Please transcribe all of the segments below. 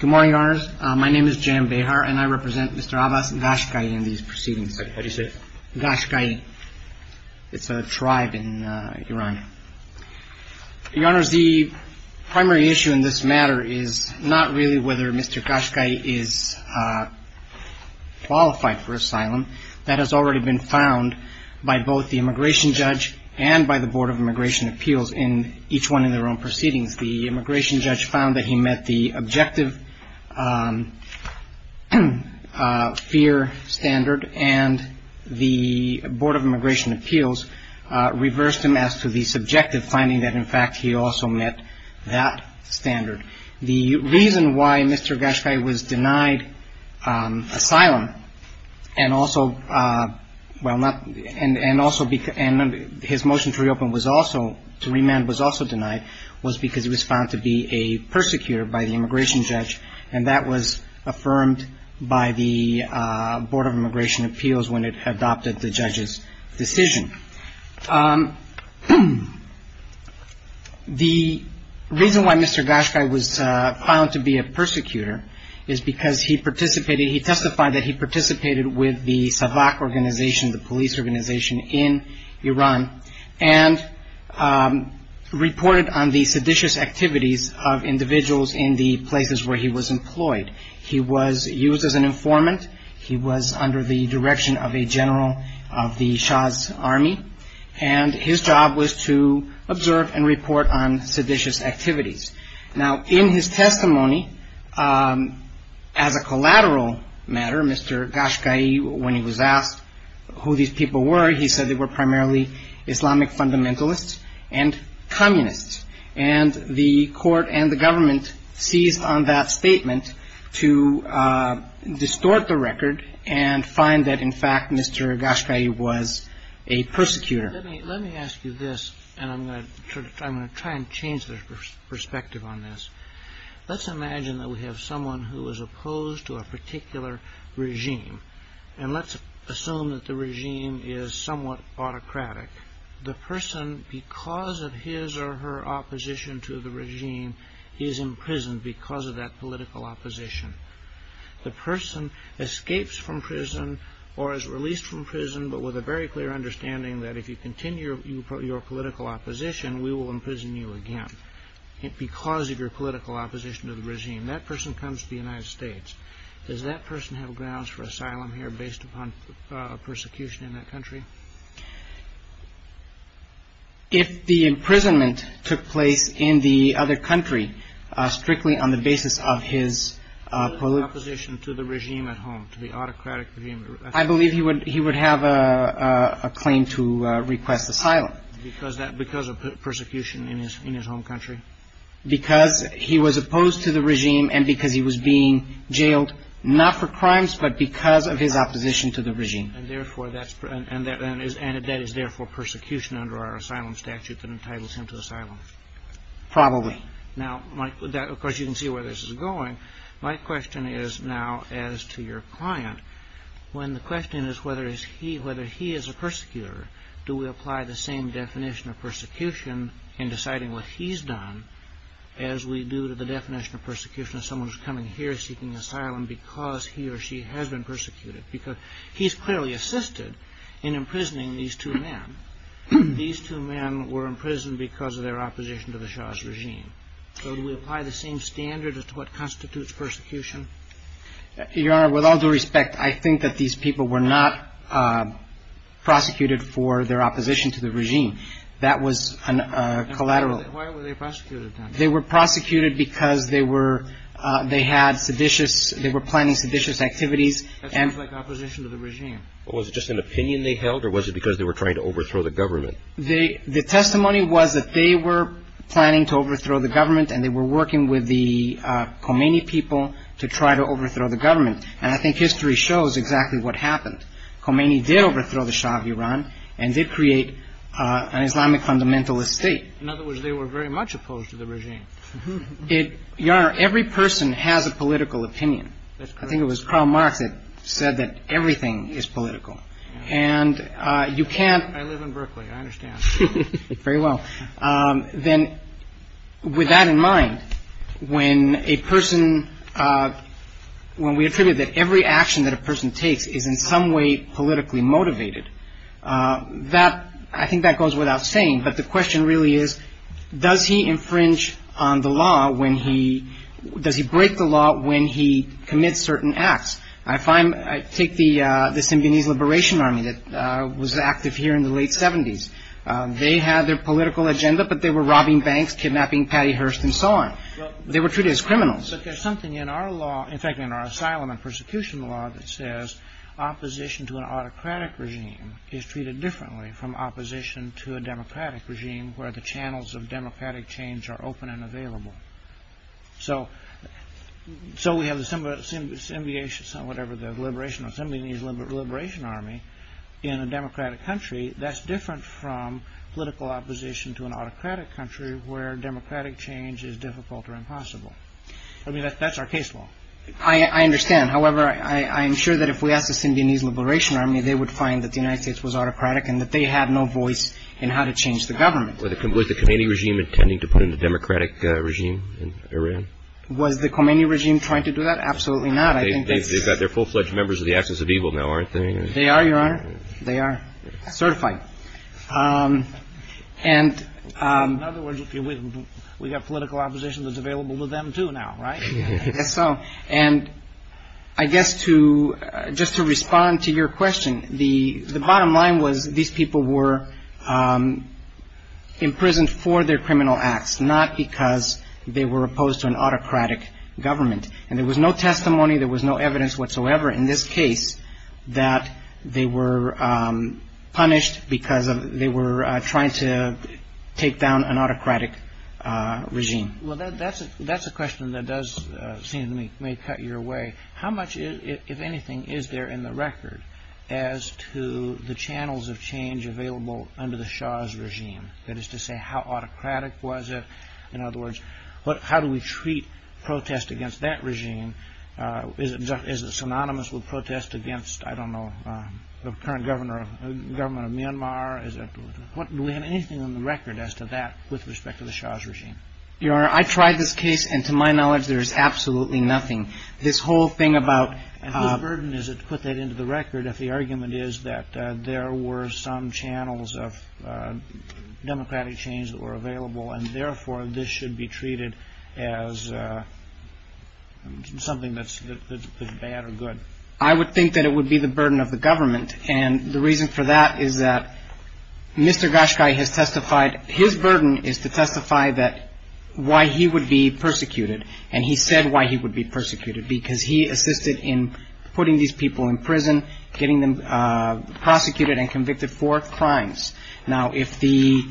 Good morning, Your Honors. My name is Jayam Behar, and I represent Mr. Abbas Ghashghaee in these proceedings. What did he say? Ghashghaee. It's a tribe in Iran. Your Honors, the primary issue in this matter is not really whether Mr. Ghashghaee is qualified for asylum. That has already been found by both the immigration judge and by the Board of Immigration Appeals in each one of their own proceedings. The immigration judge found that he met the objective fear standard, and the Board of Immigration Appeals reversed him as to the subjective finding that, in fact, he also met that standard. The reason why Mr. Ghashghaee was denied asylum and also, well, not, and also his motion to reopen was also, to remand was also denied, was because he was found to be a persecutor by the immigration judge, and that was affirmed by the Board of Immigration Appeals when it adopted the judge's decision. The reason why Mr. Ghashghaee was found to be a persecutor is because he participated, he testified that he participated with the SAVAK organization, the police organization in Iran, and reported on the seditious activities of individuals in the places where he was employed. He was used as an informant. He was under the direction of a general of the Shah's army, and his job was to observe and report on seditious activities. Now, in his testimony, as a collateral matter, Mr. Ghashghaee, when he was asked who these people were, he said they were primarily Islamic fundamentalists and communists, and the court and the government seized on that statement to distort the record and find that, in fact, Mr. Ghashghaee was a persecutor. Let me ask you this, and I'm going to try and change the perspective on this. Let's imagine that we have someone who is opposed to a particular regime, and let's assume that the regime is somewhat autocratic. The person, because of his or her opposition to the regime, is imprisoned because of that political opposition. The person escapes from prison or is released from prison, but with a very clear understanding that if you continue your political opposition, we will imprison you again because of your political opposition to the regime. That person comes to the United States. Does that person have grounds for asylum here based upon persecution in that country? If the imprisonment took place in the other country strictly on the basis of his political opposition to the regime at home, to the autocratic regime, I believe he would have a claim to request asylum. Because of persecution in his home country? Because he was opposed to the regime and because he was being jailed, not for crimes, but because of his opposition to the regime. And that is, therefore, persecution under our asylum statute that entitles him to asylum? Probably. Now, of course, you can see where this is going. My question is now as to your client, when the question is whether he is a persecutor, do we apply the same definition of persecution in deciding what he's done as we do to the definition of persecution of someone who's coming here seeking asylum because he or she has been persecuted? Because he's clearly assisted in imprisoning these two men. These two men were imprisoned because of their opposition to the Shah's regime. So do we apply the same standard as to what constitutes persecution? Your Honor, with all due respect, I think that these people were not prosecuted for their opposition to the regime. That was collateral. Why were they prosecuted, then? They were prosecuted because they were – they had seditious – they were planning seditious activities. That sounds like opposition to the regime. Was it just an opinion they held or was it because they were trying to overthrow the government? The testimony was that they were planning to overthrow the government and they were working with the Khomeini people to try to overthrow the government. And I think history shows exactly what happened. Khomeini did overthrow the Shah of Iran and did create an Islamic fundamentalist state. In other words, they were very much opposed to the regime. Your Honor, every person has a political opinion. That's correct. I think it was Karl Marx that said that everything is political. And you can't – I live in Berkeley. I understand. Very well. Then with that in mind, when a person – when we attribute that every action that a person takes is in some way politically motivated, that – I think that goes without saying. But the question really is, does he infringe on the law when he – does he break the law when he commits certain acts? I find – I take the Symbionese Liberation Army that was active here in the late 70s. They had their political agenda, but they were robbing banks, kidnapping Patty Hearst and so on. They were treated as criminals. But there's something in our law – in fact, in our asylum and persecution law that says opposition to an autocratic regime is treated differently from opposition to a democratic regime where the channels of democratic change are open and available. So we have the Symbionese Liberation Army in a democratic country. That's different from political opposition to an autocratic country where democratic change is difficult or impossible. I mean, that's our case law. I understand. However, I am sure that if we ask the Symbionese Liberation Army, they would find that the United States was autocratic and that they had no voice in how to change the government. Was the Khomeini regime intending to put in a democratic regime in Iran? Was the Khomeini regime trying to do that? Absolutely not. They've got their full-fledged members of the Axis of Evil now, aren't they? They are, Your Honor. They are certified. In other words, we've got political opposition that's available to them too now, right? I guess so. And I guess just to respond to your question, the bottom line was these people were imprisoned for their criminal acts, not because they were opposed to an autocratic government. And there was no testimony, there was no evidence whatsoever in this case that they were punished because they were trying to take down an autocratic regime. Well, that's a question that does seem to me may cut your way. How much, if anything, is there in the record as to the channels of change available under the Shah's regime? That is to say, how autocratic was it? In other words, how do we treat protest against that regime? Is it synonymous with protest against, I don't know, the current government of Myanmar? Do we have anything on the record as to that with respect to the Shah's regime? Your Honor, I tried this case, and to my knowledge, there is absolutely nothing. This whole thing about – And whose burden is it to put that into the record if the argument is that there were some channels of democratic change that were available, and therefore, this should be treated as something that's bad or good? I would think that it would be the burden of the government. And the reason for that is that Mr. Gashkai has testified – his burden is to testify that – why he would be persecuted. And he said why he would be persecuted, because he assisted in putting these people in prison, getting them prosecuted and convicted for crimes. Now, if the –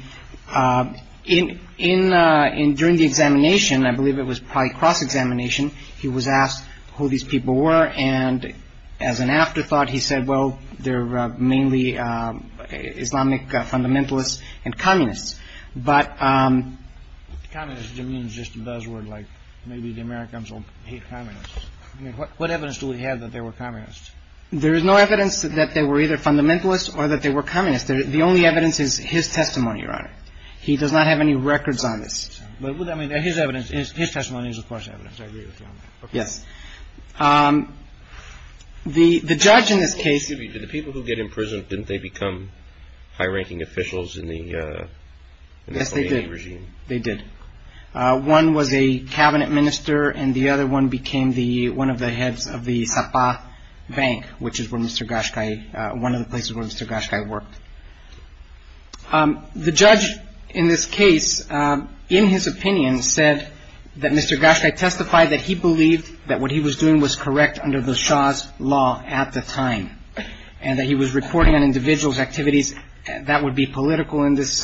during the examination, I believe it was probably cross-examination, he was asked who these people were, and as an afterthought, he said, well, they're mainly Islamic fundamentalists and communists. But – Communists, it means just a buzzword, like maybe the Americans will hate communists. I mean, what evidence do we have that they were communists? There is no evidence that they were either fundamentalists or that they were communists. The only evidence is his testimony, Your Honor. He does not have any records on this. I mean, his testimony is, of course, evidence. I agree with you on that. Yes. The judge in this case – Excuse me. Did the people who get imprisoned, didn't they become high-ranking officials in the – Yes, they did. – in the Soviet regime? They did. One was a cabinet minister, and the other one became the – one of the heads of the Sapa Bank, which is where Mr. Gashkai – one of the places where Mr. Gashkai worked. The judge in this case, in his opinion, said that Mr. Gashkai testified that he believed that what he was doing was correct under the Shah's law at the time, and that he was reporting on individuals' activities that would be political in this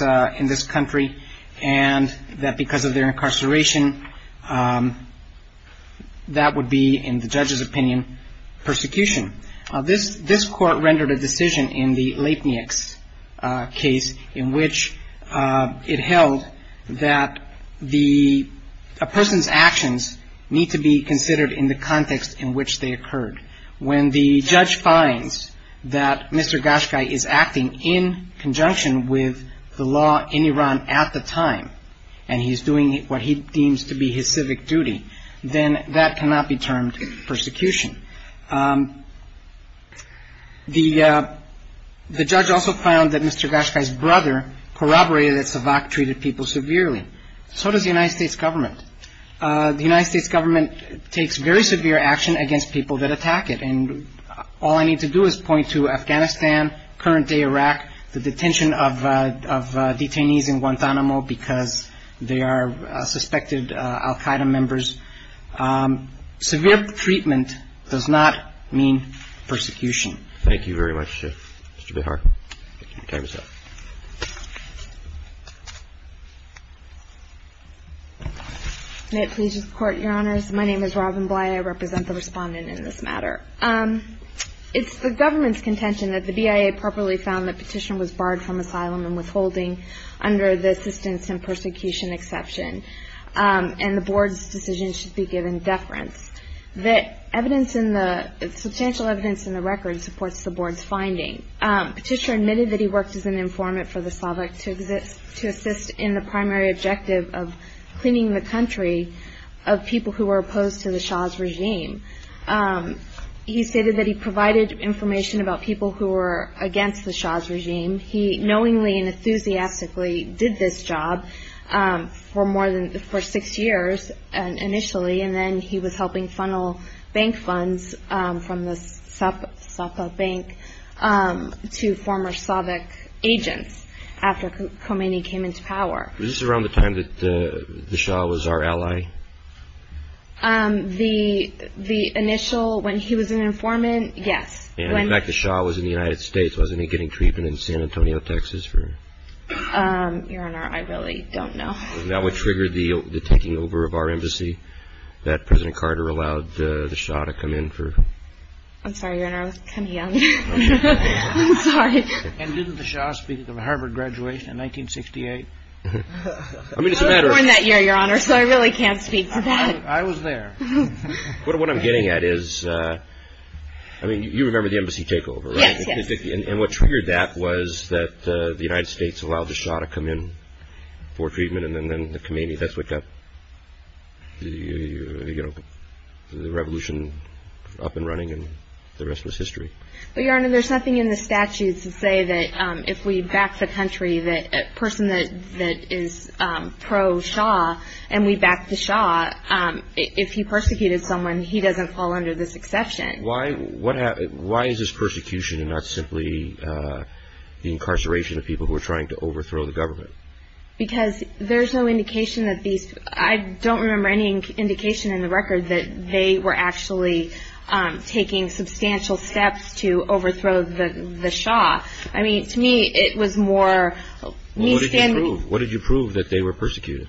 country, and that because of their incarceration, that would be, in the judge's opinion, persecution. This court rendered a decision in the Lepnik's case in which it held that the – a person's actions need to be considered in the context in which they occurred. When the judge finds that Mr. Gashkai is acting in conjunction with the law in Iran at the time, and he's doing what he deems to be his civic duty, then that cannot be termed persecution. The judge also found that Mr. Gashkai's brother corroborated that Savak treated people severely. So does the United States government. The United States government takes very severe action against people that attack it, and all I need to do is point to Afghanistan, current-day Iraq, the detention of detainees in Guantanamo because they are suspected al Qaeda members. Severe treatment does not mean persecution. Thank you very much, Mr. Behar. May it please the Court, Your Honors. My name is Robin Bly. I represent the Respondent in this matter. It's the government's contention that the BIA properly found that petition was barred from asylum and withholding under the assistance and persecution exception. And the Board's decision should be given deference. The substantial evidence in the record supports the Board's finding. Petitioner admitted that he worked as an informant for the Savak to assist in the primary objective of cleaning the country of people who were opposed to the Shah's regime. He stated that he provided information about people who were against the Shah's regime. He knowingly and enthusiastically did this job for six years initially, and then he was helping funnel bank funds from the Safav Bank to former Savak agents after Khomeini came into power. Was this around the time that the Shah was our ally? The initial, when he was an informant, yes. In fact, the Shah was in the United States. Wasn't he getting treatment in San Antonio, Texas? Your Honor, I really don't know. That would trigger the taking over of our embassy that President Carter allowed the Shah to come in for? I'm sorry, Your Honor. I was kind of young. I'm sorry. And didn't the Shah speak at the Harvard graduation in 1968? I was born that year, Your Honor, so I really can't speak to that. I was there. What I'm getting at is, I mean, you remember the embassy takeover, right? Yes, yes. And what triggered that was that the United States allowed the Shah to come in for treatment, and then Khomeini, that's what got the revolution up and running, and the rest was history. Well, Your Honor, there's nothing in the statutes to say that if we back the country, that a person that is pro-Shah and we back the Shah, if he persecuted someone, he doesn't fall under this exception. Why is this persecution and not simply the incarceration of people who are trying to overthrow the government? Because there's no indication that these – I don't remember any indication in the record that they were actually taking substantial steps to overthrow the Shah. I mean, to me, it was more me standing – Well, what did you prove? What did you prove that they were persecuted?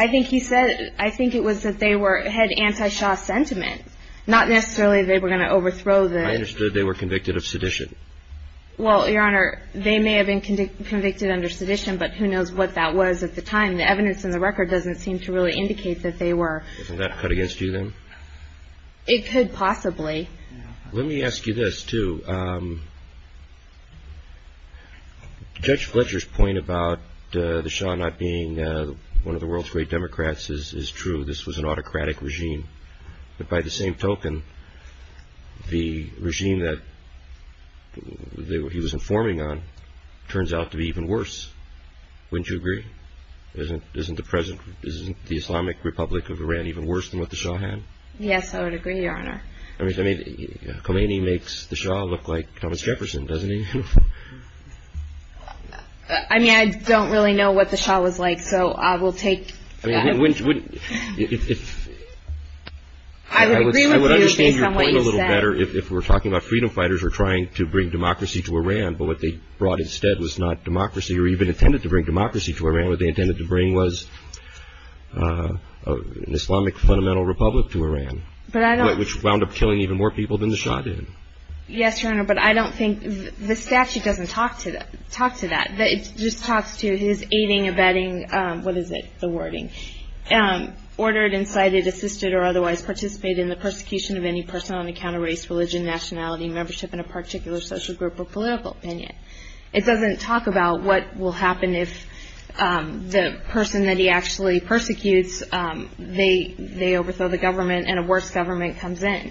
I think he said – I think it was that they were – had anti-Shah sentiment, not necessarily they were going to overthrow the – I understood they were convicted of sedition. Well, Your Honor, they may have been convicted under sedition, but who knows what that was at the time. The evidence in the record doesn't seem to really indicate that they were – Isn't that cut against you, then? It could possibly. Let me ask you this, too. Judge Fletcher's point about the Shah not being one of the world's great Democrats is true. This was an autocratic regime. But by the same token, the regime that he was informing on turns out to be even worse. Wouldn't you agree? Isn't the Islamic Republic of Iran even worse than what the Shah had? Yes, I would agree, Your Honor. I mean, Khomeini makes the Shah look like Thomas Jefferson, doesn't he? I mean, I don't really know what the Shah was like, so I will take – I mean, wouldn't – if – I would agree with you based on what you said. I would understand your point a little better if we're talking about freedom fighters who are trying to bring democracy to Iran, but what they brought instead was not democracy or even intended to bring democracy to Iran. What they intended to bring was an Islamic fundamental republic to Iran. But I don't – Which wound up killing even more people than the Shah did. Yes, Your Honor, but I don't think – the statute doesn't talk to that. It just talks to his aiding, abetting – what is it, the wording – ordered, incited, assisted, or otherwise participated in the persecution of any person on account of race, religion, nationality, membership in a particular social group or political opinion. It doesn't talk about what will happen if the person that he actually persecutes, they overthrow the government and a worse government comes in.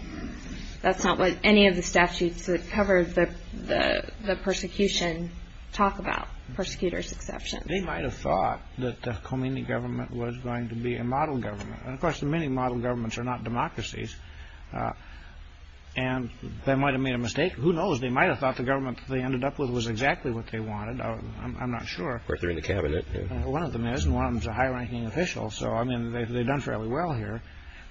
That's not what any of the statutes that cover the persecution talk about, persecutors exceptions. They might have thought that the Khomeini government was going to be a model government. And, of course, many model governments are not democracies. And they might have made a mistake. Who knows? They might have thought the government they ended up with was exactly what they wanted. I'm not sure. Or if they're in the cabinet. One of them is, and one of them is a high-ranking official. So, I mean, they've done fairly well here.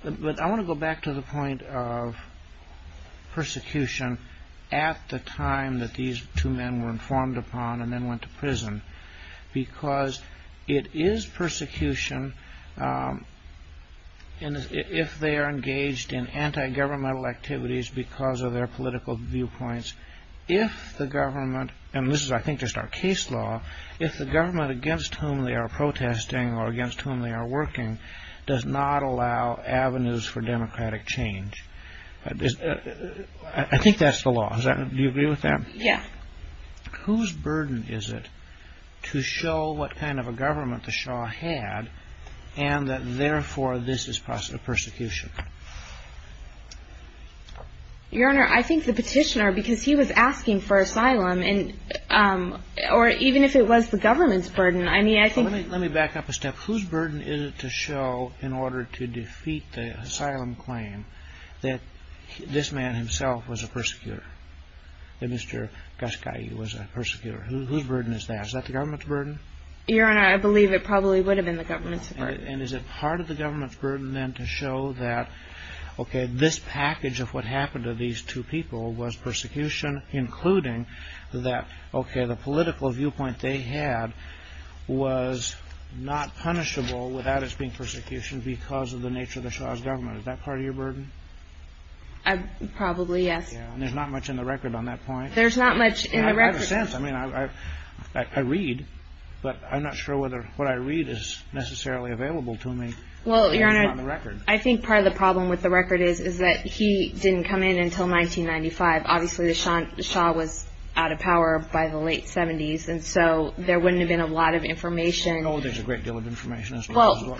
But I want to go back to the point of persecution at the time that these two men were informed upon and then went to prison. Because it is persecution if they are engaged in anti-governmental activities because of their political viewpoints. If the government – and this is, I think, just our case law – if the government against whom they are protesting or against whom they are working does not allow avenues for democratic change. I think that's the law. Do you agree with that? Yeah. Whose burden is it to show what kind of a government the Shah had and that, therefore, this is persecution? Or even if it was the government's burden. Let me back up a step. Whose burden is it to show, in order to defeat the asylum claim, that this man himself was a persecutor? That Mr. Gashkai was a persecutor? Whose burden is that? Is that the government's burden? Your Honor, I believe it probably would have been the government's burden. And is it part of the government's burden, then, to show that, okay, this package of what happened to these two people was persecution, including that, okay, the political viewpoint they had was not punishable without its being persecution because of the nature of the Shah's government. Is that part of your burden? Probably, yes. Yeah, and there's not much in the record on that point. There's not much in the record. I have a sense. I mean, I read, but I'm not sure whether what I read is necessarily available to me. Well, Your Honor, I think part of the problem with the record is, is that he didn't come in until 1995. Obviously, the Shah was out of power by the late 70s, and so there wouldn't have been a lot of information. Oh, there's a great deal of information. Well,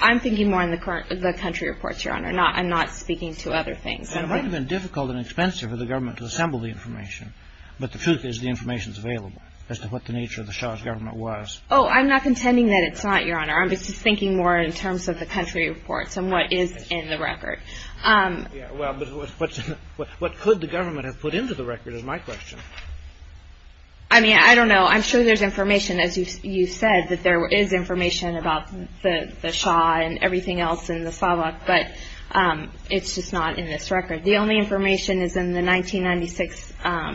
I'm thinking more in the country reports, Your Honor. I'm not speaking to other things. And it might have been difficult and expensive for the government to assemble the information, but the truth is the information is available as to what the nature of the Shah's government was. Oh, I'm not contending that it's not, Your Honor. I'm just thinking more in terms of the country reports and what is in the record. Yeah, well, but what could the government have put into the record is my question. I mean, I don't know. I'm sure there's information, as you said, that there is information about the Shah and everything else in the SAVAK, but it's just not in this record. The only information is in the 1996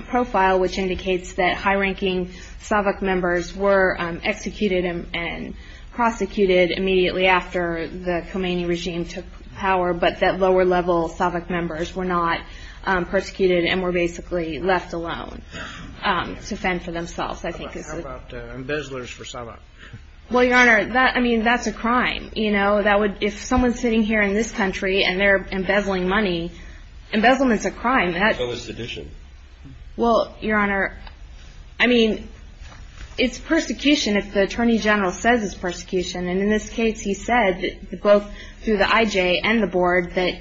profile, which indicates that high-ranking SAVAK members were executed and prosecuted immediately after the Khomeini regime took power, but that lower-level SAVAK members were not persecuted and were basically left alone to fend for themselves. How about embezzlers for SAVAK? Well, Your Honor, I mean, that's a crime. If someone's sitting here in this country and they're embezzling money, embezzlement's a crime. So is sedition. Well, Your Honor, I mean, it's persecution if the attorney general says it's persecution, and in this case he said, both through the IJ and the board, that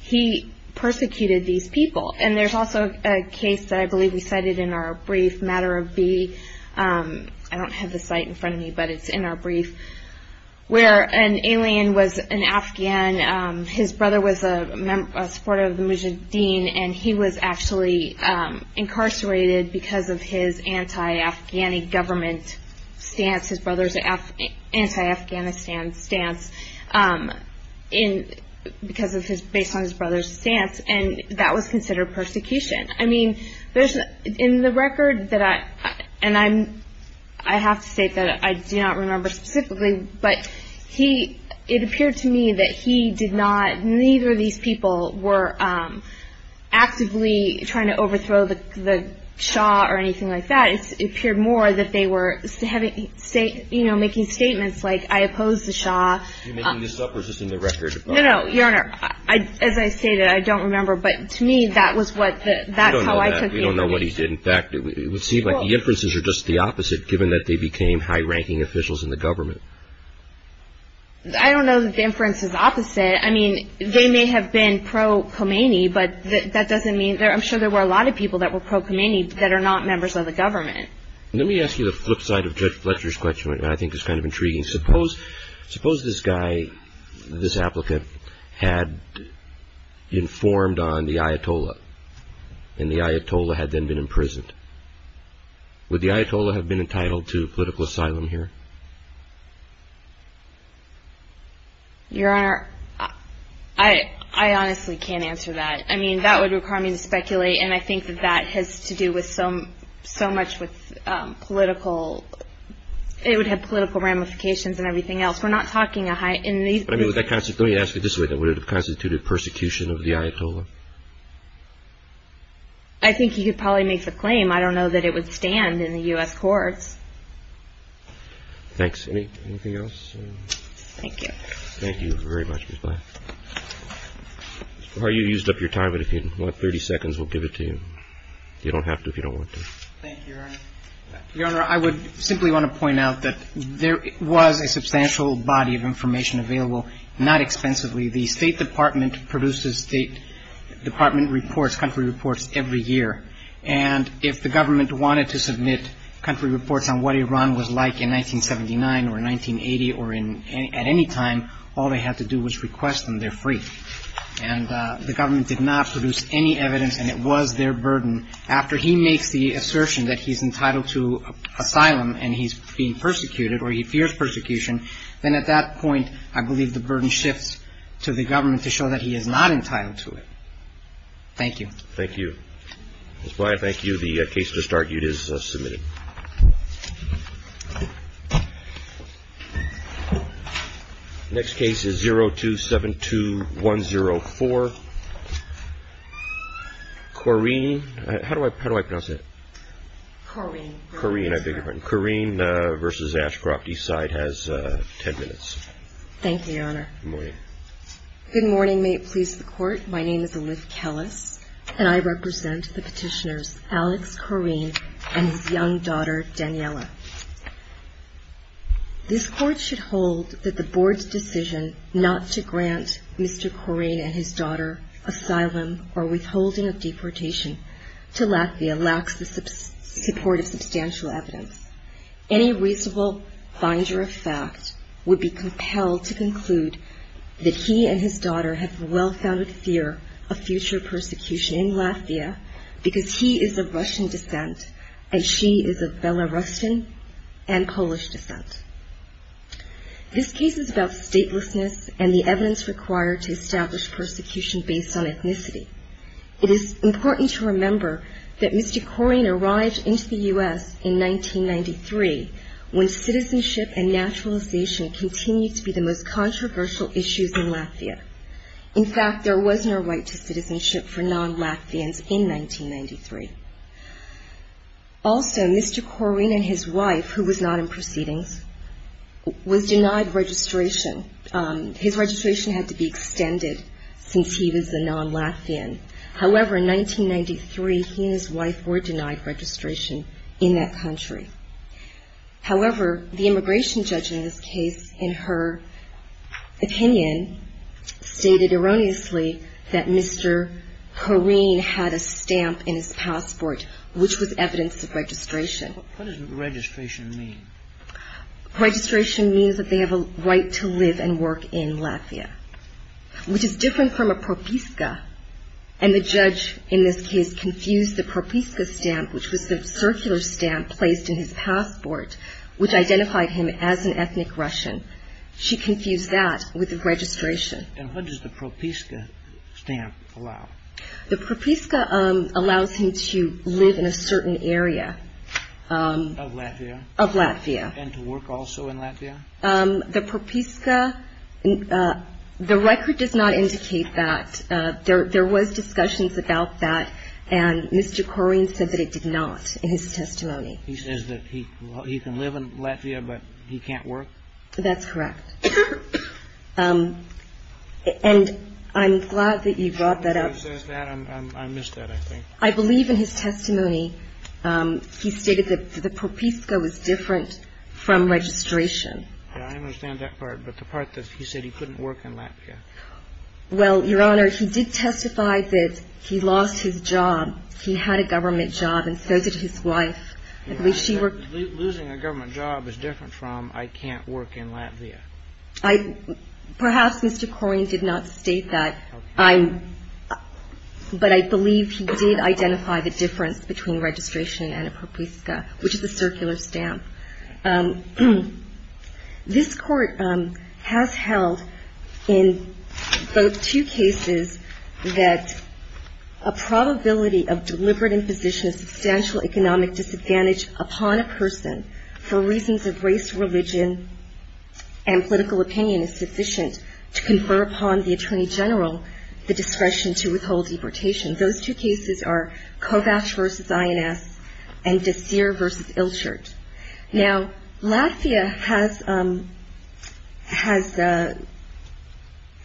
he persecuted these people, and there's also a case that I believe we cited in our brief, Matter of B. I don't have the site in front of me, but it's in our brief, where an alien was an Afghan. His brother was a supporter of the Mujahideen, and he was actually incarcerated because of his anti-Afghani government stance, his brother's anti-Afghanistan stance, based on his brother's stance, and that was considered persecution. I mean, in the record, and I have to state that I do not remember specifically, but it appeared to me that he did not, neither of these people were actively trying to overthrow the Shah or anything like that. It appeared more that they were making statements like, I oppose the Shah. Are you making this up or just in the record? No, no, Your Honor, as I stated, I don't remember, but to me that's how I took it. We don't know what he did. In fact, it would seem like the inferences are just the opposite, given that they became high-ranking officials in the government. I don't know that the inference is opposite. I mean, they may have been pro-Khomeini, but that doesn't mean, I'm sure there were a lot of people that were pro-Khomeini that are not members of the government. Let me ask you the flip side of Judge Fletcher's question, which I think is kind of intriguing. Suppose this guy, this applicant, had informed on the Ayatollah, and the Ayatollah had then been imprisoned. Would the Ayatollah have been entitled to political asylum here? Your Honor, I honestly can't answer that. I mean, that would require me to speculate, and I think that that has to do with so much with political, it would have political ramifications and everything else. We're not talking in these groups. Let me ask it this way, would it have constituted persecution of the Ayatollah? I think he could probably make the claim. I don't know that it would stand in the U.S. courts. Thanks. Anything else? Thank you. Thank you very much, Ms. Black. Or you used up your time, but if you want 30 seconds, we'll give it to you. You don't have to if you don't want to. Thank you, Your Honor. Your Honor, I would simply want to point out that there was a substantial body of information available, not expensively. The State Department produces State Department reports, country reports, every year. And if the government wanted to submit country reports on what Iran was like in 1979 or 1980 or at any time, all they had to do was request them, they're free. And the government did not produce any evidence, and it was their burden. After he makes the assertion that he's entitled to asylum and he's being persecuted or he fears persecution, then at that point I believe the burden shifts to the government to show that he is not entitled to it. Thank you. Thank you. Ms. Black, thank you. The case just argued is submitted. Next case is 0272104. Corrine. How do I pronounce that? Corrine. Corrine. Corrine versus Ashcroft Eastside has ten minutes. Thank you, Your Honor. Good morning. Good morning. May it please the Court. My name is Elif Kellis, and I represent the Petitioners Alex Corrine and his young daughter Daniella. This Court should hold that the Board's decision not to grant Mr. Corrine and his daughter asylum or withholding of deportation to Latvia lacks the support of substantial evidence. Any reasonable finder of fact would be compelled to conclude that he and his daughter have well-founded fear of future persecution in Latvia because he is of Russian descent and she is of Belarusian and Polish descent. This case is about statelessness and the evidence required to establish persecution based on ethnicity. It is important to remember that Mr. Corrine arrived into the U.S. in 1993 when citizenship and naturalization continued to be the most controversial issues in Latvia. In fact, there was no right to citizenship for non-Latvians in 1993. Also, Mr. Corrine and his wife, who was not in proceedings, was denied registration. His registration had to be extended since he was a non-Latvian. However, in 1993, he and his wife were denied registration in that country. However, the immigration judge in this case, in her opinion, stated erroneously that Mr. Corrine had a stamp in his passport, which was evidence of registration. What does registration mean? Registration means that they have a right to live and work in Latvia, which is different from a propiska. And the judge in this case confused the propiska stamp, which was the circular stamp placed in his passport, which identified him as an ethnic Russian. She confused that with registration. And what does the propiska stamp allow? The propiska allows him to live in a certain area of Latvia. And to work also in Latvia? The propiska, the record does not indicate that. There was discussions about that, and Mr. Corrine said that it did not in his testimony. He says that he can live in Latvia, but he can't work? That's correct. And I'm glad that you brought that up. I missed that, I think. I believe in his testimony he stated that the propiska was different from registration. I understand that part, but the part that he said he couldn't work in Latvia. Well, Your Honor, he did testify that he lost his job. He had a government job and so did his wife. Losing a government job is different from I can't work in Latvia. Perhaps Mr. Corrine did not state that, but I believe he did identify the difference between registration and a propiska, which is a circular stamp. This Court has held in both two cases that a probability of deliberate imposition of substantial economic disadvantage upon a person for reasons of race, religion, and political opinion is sufficient to confer upon the Attorney General the discretion to withhold deportation. Those two cases are Kovacs v. INS and Desir v. Ilchert. Now, Latvia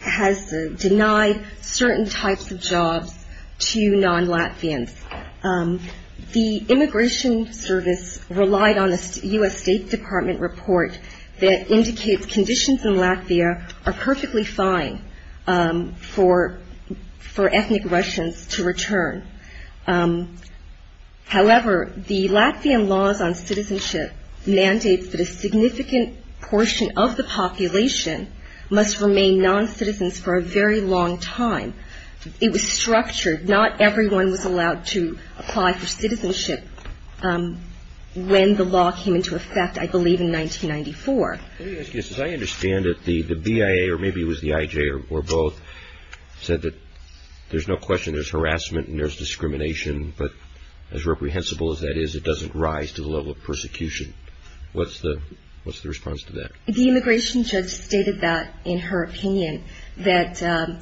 has denied certain types of jobs to non-Latvians. The Immigration Service relied on a U.S. State Department report that indicates conditions in Latvia are perfectly fine for ethnic Russians to return. However, the Latvian laws on citizenship mandates that a significant portion of the population must remain non-citizens for a very long time. It was structured. Not everyone was allowed to apply for citizenship when the law came into effect, I believe, in 1994. As I understand it, the BIA, or maybe it was the IJ or both, said that there's no question there's harassment and there's discrimination, but as reprehensible as that is, it doesn't rise to the level of persecution. What's the response to that? The immigration judge stated that in her opinion, that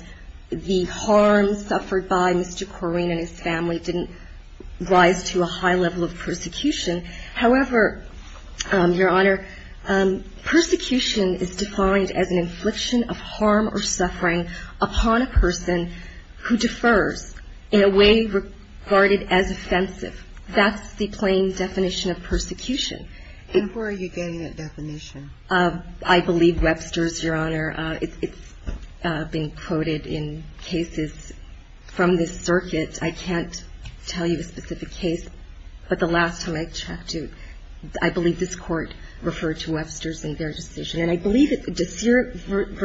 the harm suffered by Mr. Korine and his family didn't rise to a high level of persecution. However, Your Honor, persecution is defined as an infliction of harm or suffering upon a person who defers in a way regarded as offensive. That's the plain definition of persecution. And where are you getting that definition? I believe Webster's, Your Honor. It's being quoted in cases from this circuit. I can't tell you a specific case, but the last time I checked, I believe this Court referred to Webster's in their decision. And I believe that De Seer v.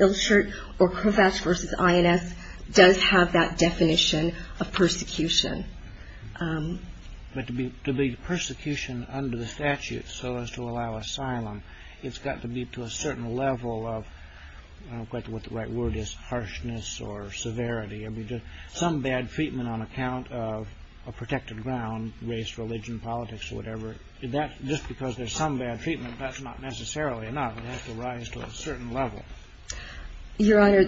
Ilshert or Kovacs v. INS does have that definition of persecution. But to be persecution under the statute so as to allow asylum, it's got to be to a certain level of, I don't quite know what the right word is, harshness or severity. Some bad treatment on account of a protected ground, race, religion, politics, whatever. Just because there's some bad treatment, that's not necessarily enough. It has to rise to a certain level. Your Honor,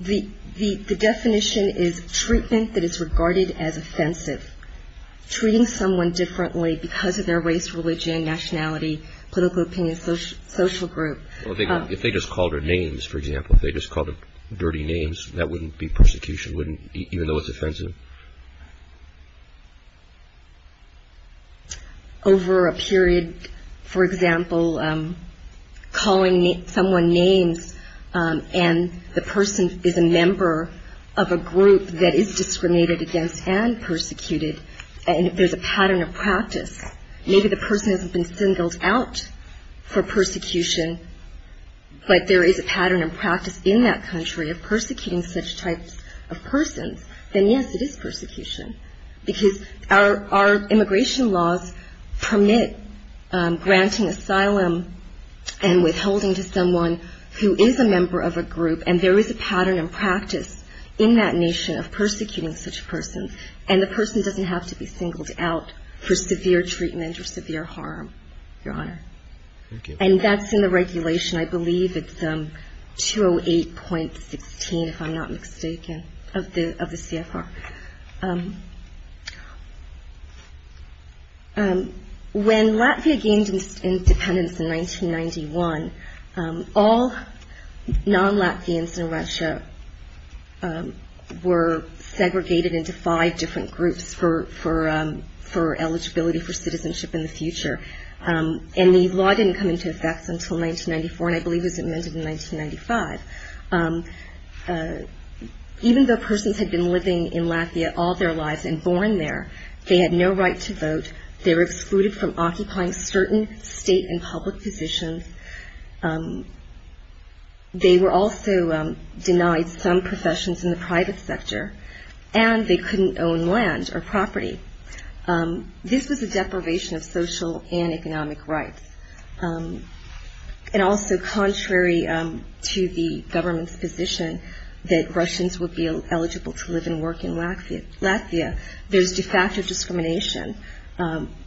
the definition is treatment that is regarded as offensive. Treating someone differently because of their race, religion, nationality, political opinion, social group. Well, if they just called her names, for example, if they just called her dirty names, that wouldn't be persecution, even though it's offensive? Over a period, for example, calling someone names and the person is a member of a group that is discriminated against and persecuted, and if there's a pattern of practice, maybe the person hasn't been singled out for persecution, but there is a pattern of practice in that country of persecuting such types of persons, then yes, it is persecution, because our immigration laws permit granting asylum and withholding to someone who is a member of a group, and there is a pattern of practice in that nation of persecuting such persons, and the person doesn't have to be singled out for severe treatment or severe harm, Your Honor. And that's in the regulation, I believe it's 208.16, if I'm not mistaken, of the CFR. When Latvia gained independence in 1991, all non-Latvians in Russia were segregated into five different groups for eligibility for citizenship in the future, and the law didn't come into effect until 1994, and I believe it was amended in 1995. Even though persons had been living in Latvia all their lives and born there, they had no right to vote, they were excluded from occupying certain state and public positions, they were also denied some professions in the private sector, and they couldn't own land or property. This was a deprivation of social and economic rights. And also contrary to the government's position that Russians would be eligible to live and work in Latvia, there's de facto discrimination,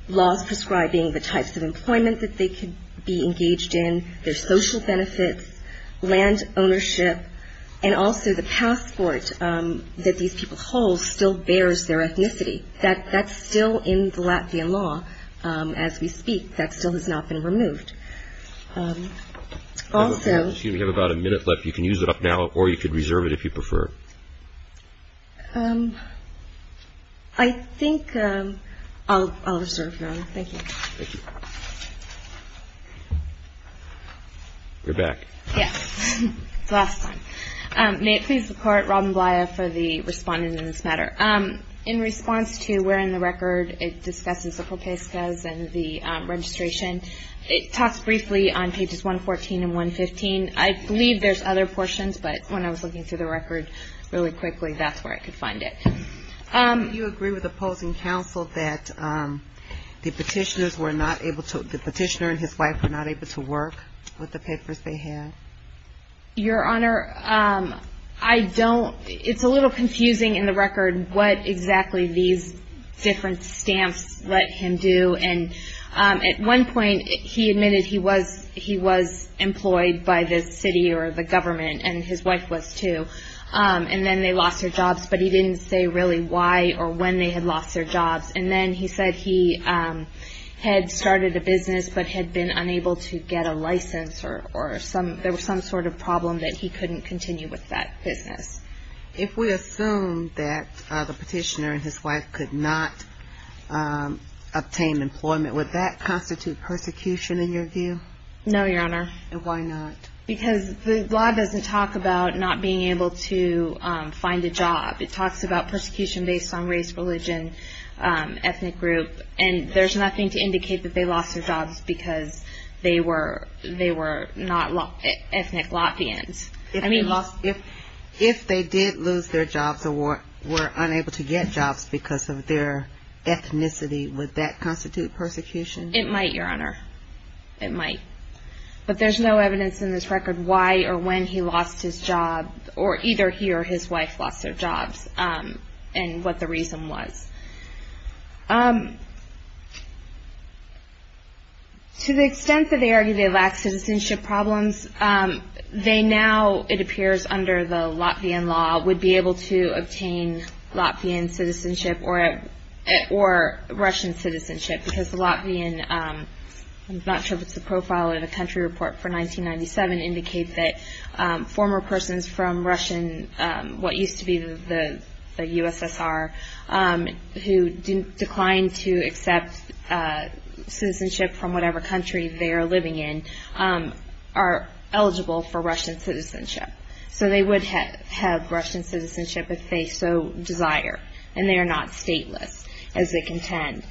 laws prescribing the types of employment that they could be engaged in, their social benefits, land ownership, and also the passport that these people hold still bears their ethnicity. That's still in the Latvian law as we speak, that still has not been removed. Also... I think I'll reserve now, thank you. You're back. Yes, it's the last time. In response to where in the record it discusses the propuestas and the registration, it talks briefly on pages 114 and 115, I believe there's other portions, but when I was looking through the record really quickly, that's where I could find it. Do you agree with opposing counsel that the petitioners were not able to, the petitioner and his wife were not able to work with the papers they had? Your Honor, I don't, it's a little confusing in the record what exactly these different stamps let him do, and at one point he admitted he was employed by the city or the government, and his wife was too, and then they lost their jobs, but he didn't say really why or when they had lost their jobs, and then he said he had started a business but had been unable to get a license, or there was some sort of problem that he couldn't continue with that business. If we assume that the petitioner and his wife could not obtain employment, would that constitute persecution in your view? No, Your Honor. And why not? Because the law doesn't talk about not being able to find a job, it talks about persecution based on race, religion, ethnic group, and there's nothing to indicate that they lost their jobs because they were not ethnic Latvians. If they did lose their jobs or were unable to get jobs because of their ethnicity, would that constitute persecution? It might, Your Honor. It might. But there's no evidence in this record why or when he lost his job, or either he or his wife lost their jobs, and what the reason was. To the extent that they argue they lack citizenship problems, they now, it appears under the Latvian law, would be able to obtain Latvian citizenship or Russian citizenship because the Latvian, I'm not sure if it's the profile or the country report for 1997, indicate that former persons from Russian, what used to be the USSR, who declined to accept citizenship from whatever country they are living in, are eligible for Russian citizenship. So they would have Russian citizenship if they so desire, and they are not stateless, as they contend.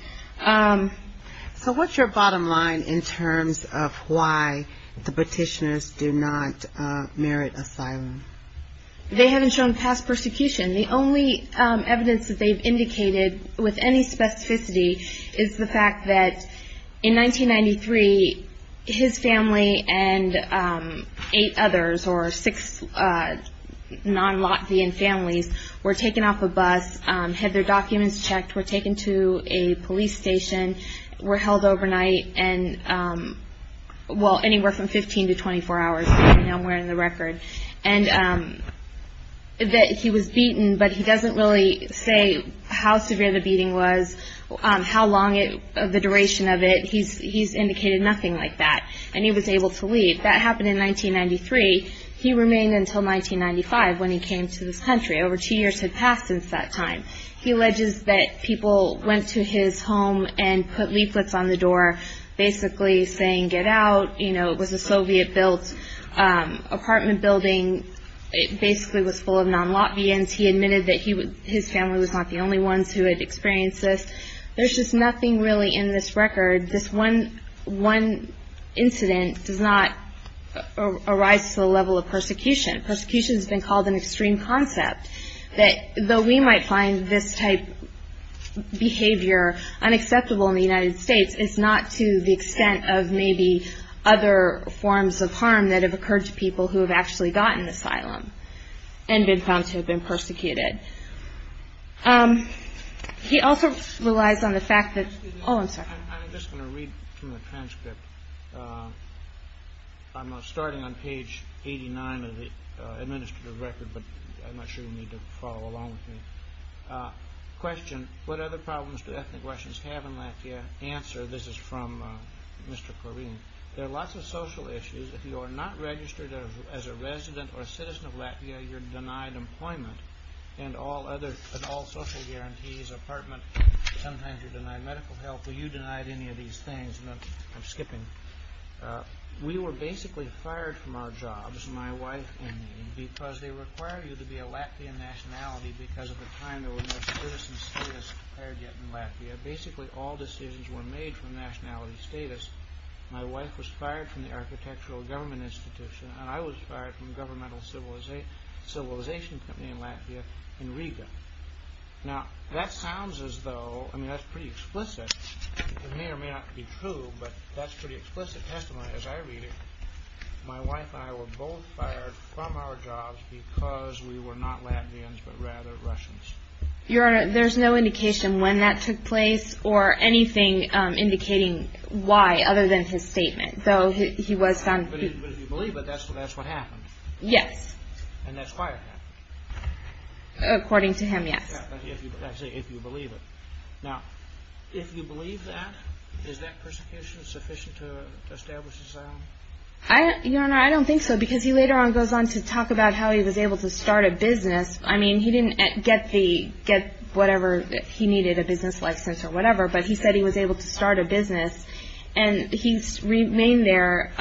So what's your bottom line in terms of why the petitioners do not merit asylum? They haven't shown past persecution. The only evidence that they've indicated with any specificity is the fact that in 1993, his family and eight others, or six non-Latvian families, were taken off a bus, had their documents checked, were taken to a police station, were held overnight, and, well, anywhere from 15 to 24 hours, now I'm wearing the record. And that he was beaten, but he doesn't really say how severe the beating was, how long the duration of it. He's indicated nothing like that, and he was able to leave. That happened in 1993. He remained until 1995 when he came to this country. Over two years had passed since that time. He alleges that people went to his home and put leaflets on the door basically saying get out. You know, it was a Soviet-built apartment building. It basically was full of non-Latvians. He admitted that his family was not the only ones who had experienced this. There's just nothing really in this record. This one incident does not arise to the level of persecution. Persecution has been called an extreme concept. Though we might find this type of behavior unacceptable in the United States, it's not to the extent of maybe other forms of harm that have occurred to people who have actually gotten asylum and been found to have been persecuted. He also relies on the fact that – oh, I'm sorry. I'm just going to read from the transcript. I'm starting on page 89 of the administrative record, but I'm not sure you need to follow along with me. Question, what other problems do ethnic Russians have in Latvia? Answer, this is from Mr. Korine. There are lots of social issues. If you are not registered as a resident or a citizen of Latvia, you're denied employment and all social guarantees, apartment. Sometimes you're denied medical help. Were you denied any of these things? I'm skipping. We were basically fired from our jobs, my wife and me, because they required you to be a Latvian nationality because at the time there were no citizen status required yet in Latvia. Basically all decisions were made from nationality status. My wife was fired from the architectural government institution, and I was fired from the governmental civilization company in Latvia in Riga. Now, that sounds as though – I mean, that's pretty explicit. It may or may not be true, but that's pretty explicit testimony as I read it. My wife and I were both fired from our jobs because we were not Latvians but rather Russians. Your Honor, there's no indication when that took place or anything indicating why other than his statement, though he was found to be. But if you believe it, that's what happened? Yes. And that's why it happened? According to him, yes. I see, if you believe it. Now, if you believe that, is that persecution sufficient to establish asylum? Your Honor, I don't think so, because he later on goes on to talk about how he was able to start a business. I mean, he didn't get whatever he needed, a business license or whatever, but he said he was able to start a business, and he remained there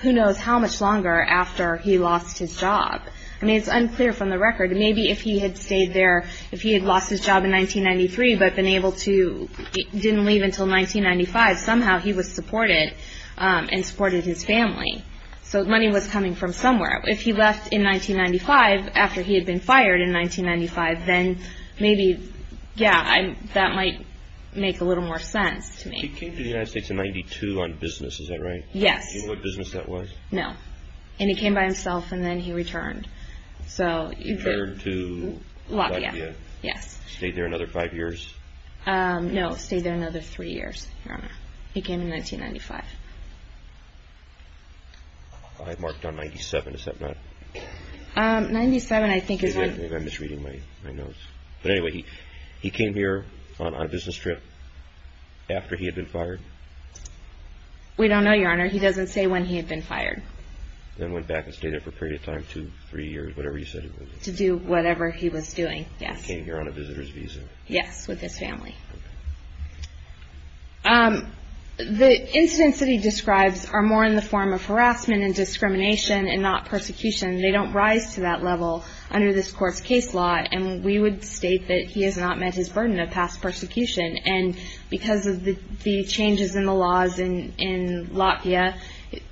who knows how much longer after he lost his job. I mean, it's unclear from the record. Maybe if he had stayed there, if he had lost his job in 1993 but been able to – didn't leave until 1995, somehow he was supported and supported his family. So money was coming from somewhere. If he left in 1995 after he had been fired in 1995, then maybe, yeah, that might make a little more sense to me. He came to the United States in 1992 on business, is that right? Yes. Do you know what business that was? No. And he came by himself, and then he returned. He returned to Latvia? Latvia, yes. Stayed there another five years? No, stayed there another three years, Your Honor. He came in 1995. I marked on 97, is that right? 97, I think is right. Maybe I'm misreading my notes. But anyway, he came here on a business trip after he had been fired? We don't know, Your Honor. He doesn't say when he had been fired. Then went back and stayed there for a period of time, two, three years, whatever you said it was. To do whatever he was doing, yes. Came here on a visitor's visa? Yes, with his family. The incidents that he describes are more in the form of harassment and discrimination and not persecution. They don't rise to that level under this court's case law, and we would state that he has not met his burden of past persecution. And because of the changes in the laws in Latvia,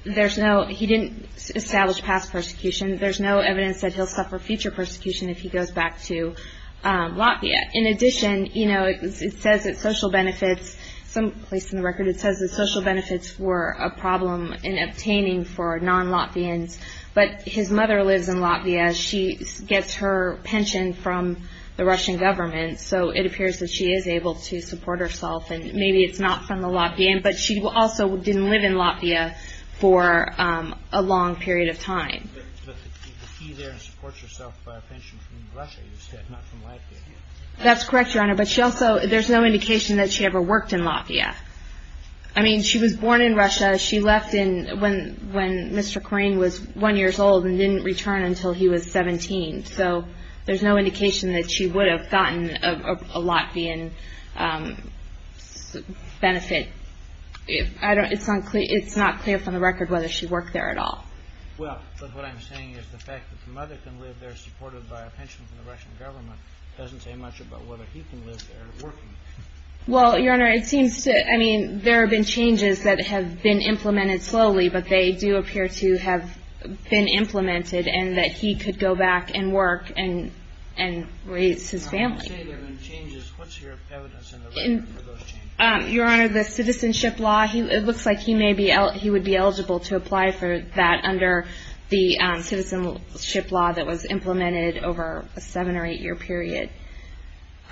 there's no – he didn't establish past persecution. There's no evidence that he'll suffer future persecution if he goes back to Latvia. In addition, you know, it says that social benefits – some place in the record it says that social benefits were a problem in obtaining for non-Latvians, but his mother lives in Latvia. She gets her pension from the Russian government, so it appears that she is able to support herself. And maybe it's not from the Latvian, but she also didn't live in Latvia for a long period of time. But the key there is support yourself by a pension from Russia, you said, not from Latvia. That's correct, Your Honor. But she also – there's no indication that she ever worked in Latvia. I mean, she was born in Russia. She left when Mr. Korine was 1 years old and didn't return until he was 17. So there's no indication that she would have gotten a Latvian benefit. It's not clear from the record whether she worked there at all. Well, but what I'm saying is the fact that the mother can live there supported by a pension from the Russian government doesn't say much about whether he can live there working. Well, Your Honor, it seems to – I mean, there have been changes that have been implemented slowly, but they do appear to have been implemented and that he could go back and work and raise his family. When you say there have been changes, what's your evidence in the record for those changes? Your Honor, the citizenship law, it looks like he would be eligible to apply for that under the citizenship law that was implemented over a seven- or eight-year period.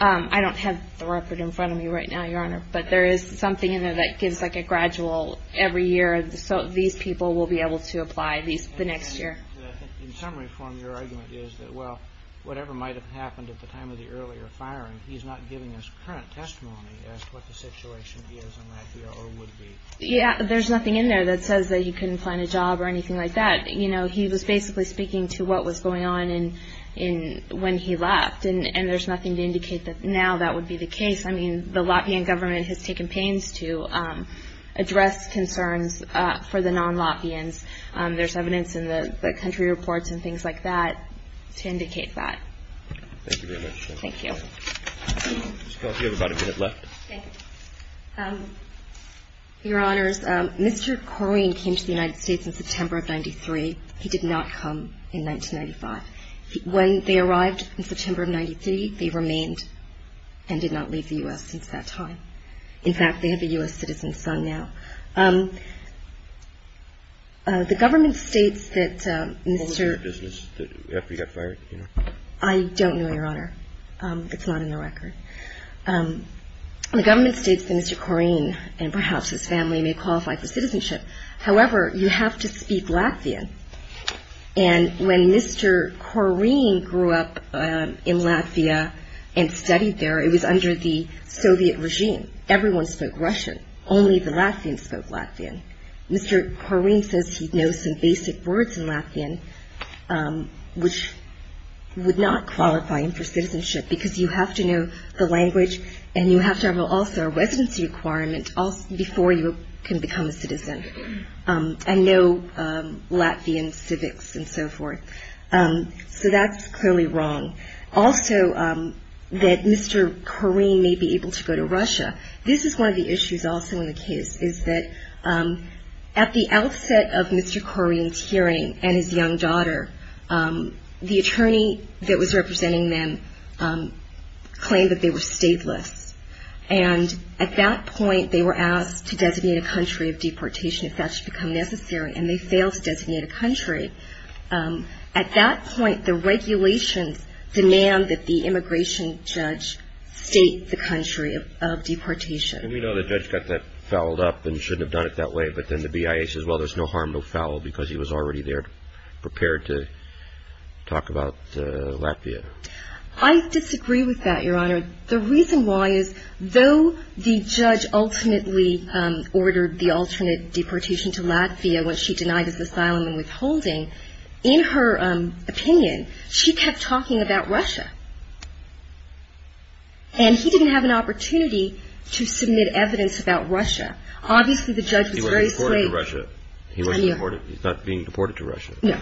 I don't have the record in front of me right now, Your Honor, but there is something in there that gives like a gradual every year, so these people will be able to apply the next year. In summary form, your argument is that, well, whatever might have happened at the time of the earlier firing, he's not giving us current testimony as to what the situation is in Latvia or would be. Yeah, there's nothing in there that says that he couldn't find a job or anything like that. He was basically speaking to what was going on when he left, and there's nothing to indicate that now that would be the case. I mean, the Latvian government has taken pains to address concerns for the non-Latvians. There's evidence in the country reports and things like that to indicate that. Thank you very much. Thank you. Ms. Kelsey, you have about a minute left. Okay. Your Honors, Mr. Korine came to the United States in September of 93. He did not come in 1995. When they arrived in September of 93, they remained and did not leave the U.S. since that time. In fact, they have a U.S. citizen's son now. The government states that Mr. What was your business after he got fired? I don't know, Your Honor. It's not in the record. The government states that Mr. Korine and perhaps his family may qualify for citizenship. However, you have to speak Latvian. And when Mr. Korine grew up in Latvia and studied there, it was under the Soviet regime. Everyone spoke Russian. Only the Latvians spoke Latvian. Mr. Korine says he knows some basic words in Latvian, which would not qualify him for citizenship because you have to know the language and you have to have also a residency requirement before you can become a citizen and know Latvian civics and so forth. So that's clearly wrong. Also, that Mr. Korine may be able to go to Russia. This is one of the issues also in the case is that at the outset of Mr. Korine's hearing and his young daughter, the attorney that was representing them claimed that they were stateless. And at that point, they were asked to designate a country of deportation if that should become necessary, and they failed to designate a country. At that point, the regulations demand that the immigration judge state the country of deportation. And we know the judge got that fouled up and shouldn't have done it that way, but then the BIA says, well, there's no harm, no foul, because he was already there prepared to talk about Latvia. I disagree with that, Your Honor. The reason why is though the judge ultimately ordered the alternate deportation to Latvia when she denied his asylum and withholding, in her opinion, she kept talking about Russia. And he didn't have an opportunity to submit evidence about Russia. Obviously, the judge was very slave. He was deported to Russia. He was deported. He's not being deported to Russia. No.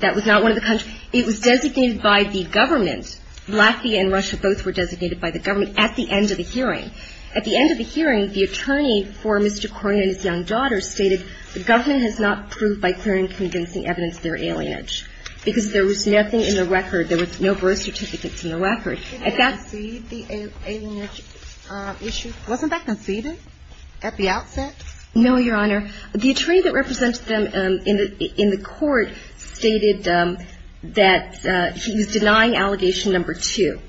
That was not one of the countries. It was designated by the government. Latvia and Russia both were designated by the government at the end of the hearing. At the end of the hearing, the attorney for Mr. Cornyn and his young daughter stated, the government has not proved by clear and convincing evidence their alienage, because there was nothing in the record. There was no birth certificates in the record. At that ---- Didn't they concede the alienage issue? Wasn't that conceded at the outset? No, Your Honor. The attorney that represented them in the court stated that he was denying allegation number two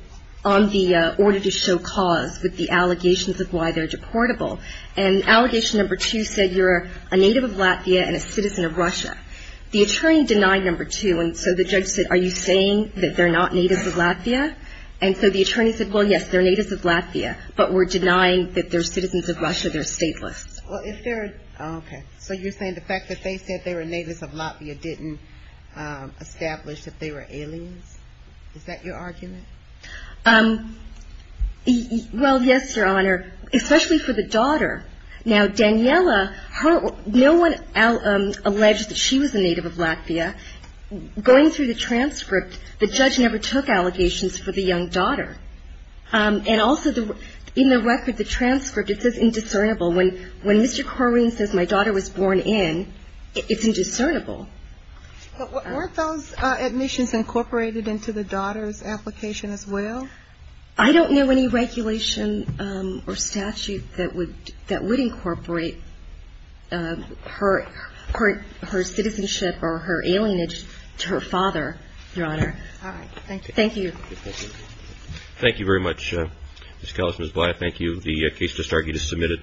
on the order to show cause with the allegations of why they're deportable. And allegation number two said you're a native of Latvia and a citizen of Russia. The attorney denied number two, and so the judge said, are you saying that they're not natives of Latvia? And so the attorney said, well, yes, they're natives of Latvia, but we're denying that they're citizens of Russia, they're stateless. Well, if they're ---- Okay. So you're saying the fact that they said they were natives of Latvia didn't establish that they were aliens? Is that your argument? Well, yes, Your Honor, especially for the daughter. Now, Daniela, her ---- no one alleged that she was a native of Latvia. Going through the transcript, the judge never took allegations for the young daughter. And also the ---- in the record, the transcript, it says indiscernible. When Mr. Corwin says my daughter was born in, it's indiscernible. But weren't those admissions incorporated into the daughter's application as well? I don't know any regulation or statute that would incorporate her citizenship or her alienage to her father, Your Honor. All right. Thank you. Thank you. Thank you very much, Ms. Kallis and Ms. Blatt. Thank you. The case just argued is submitted.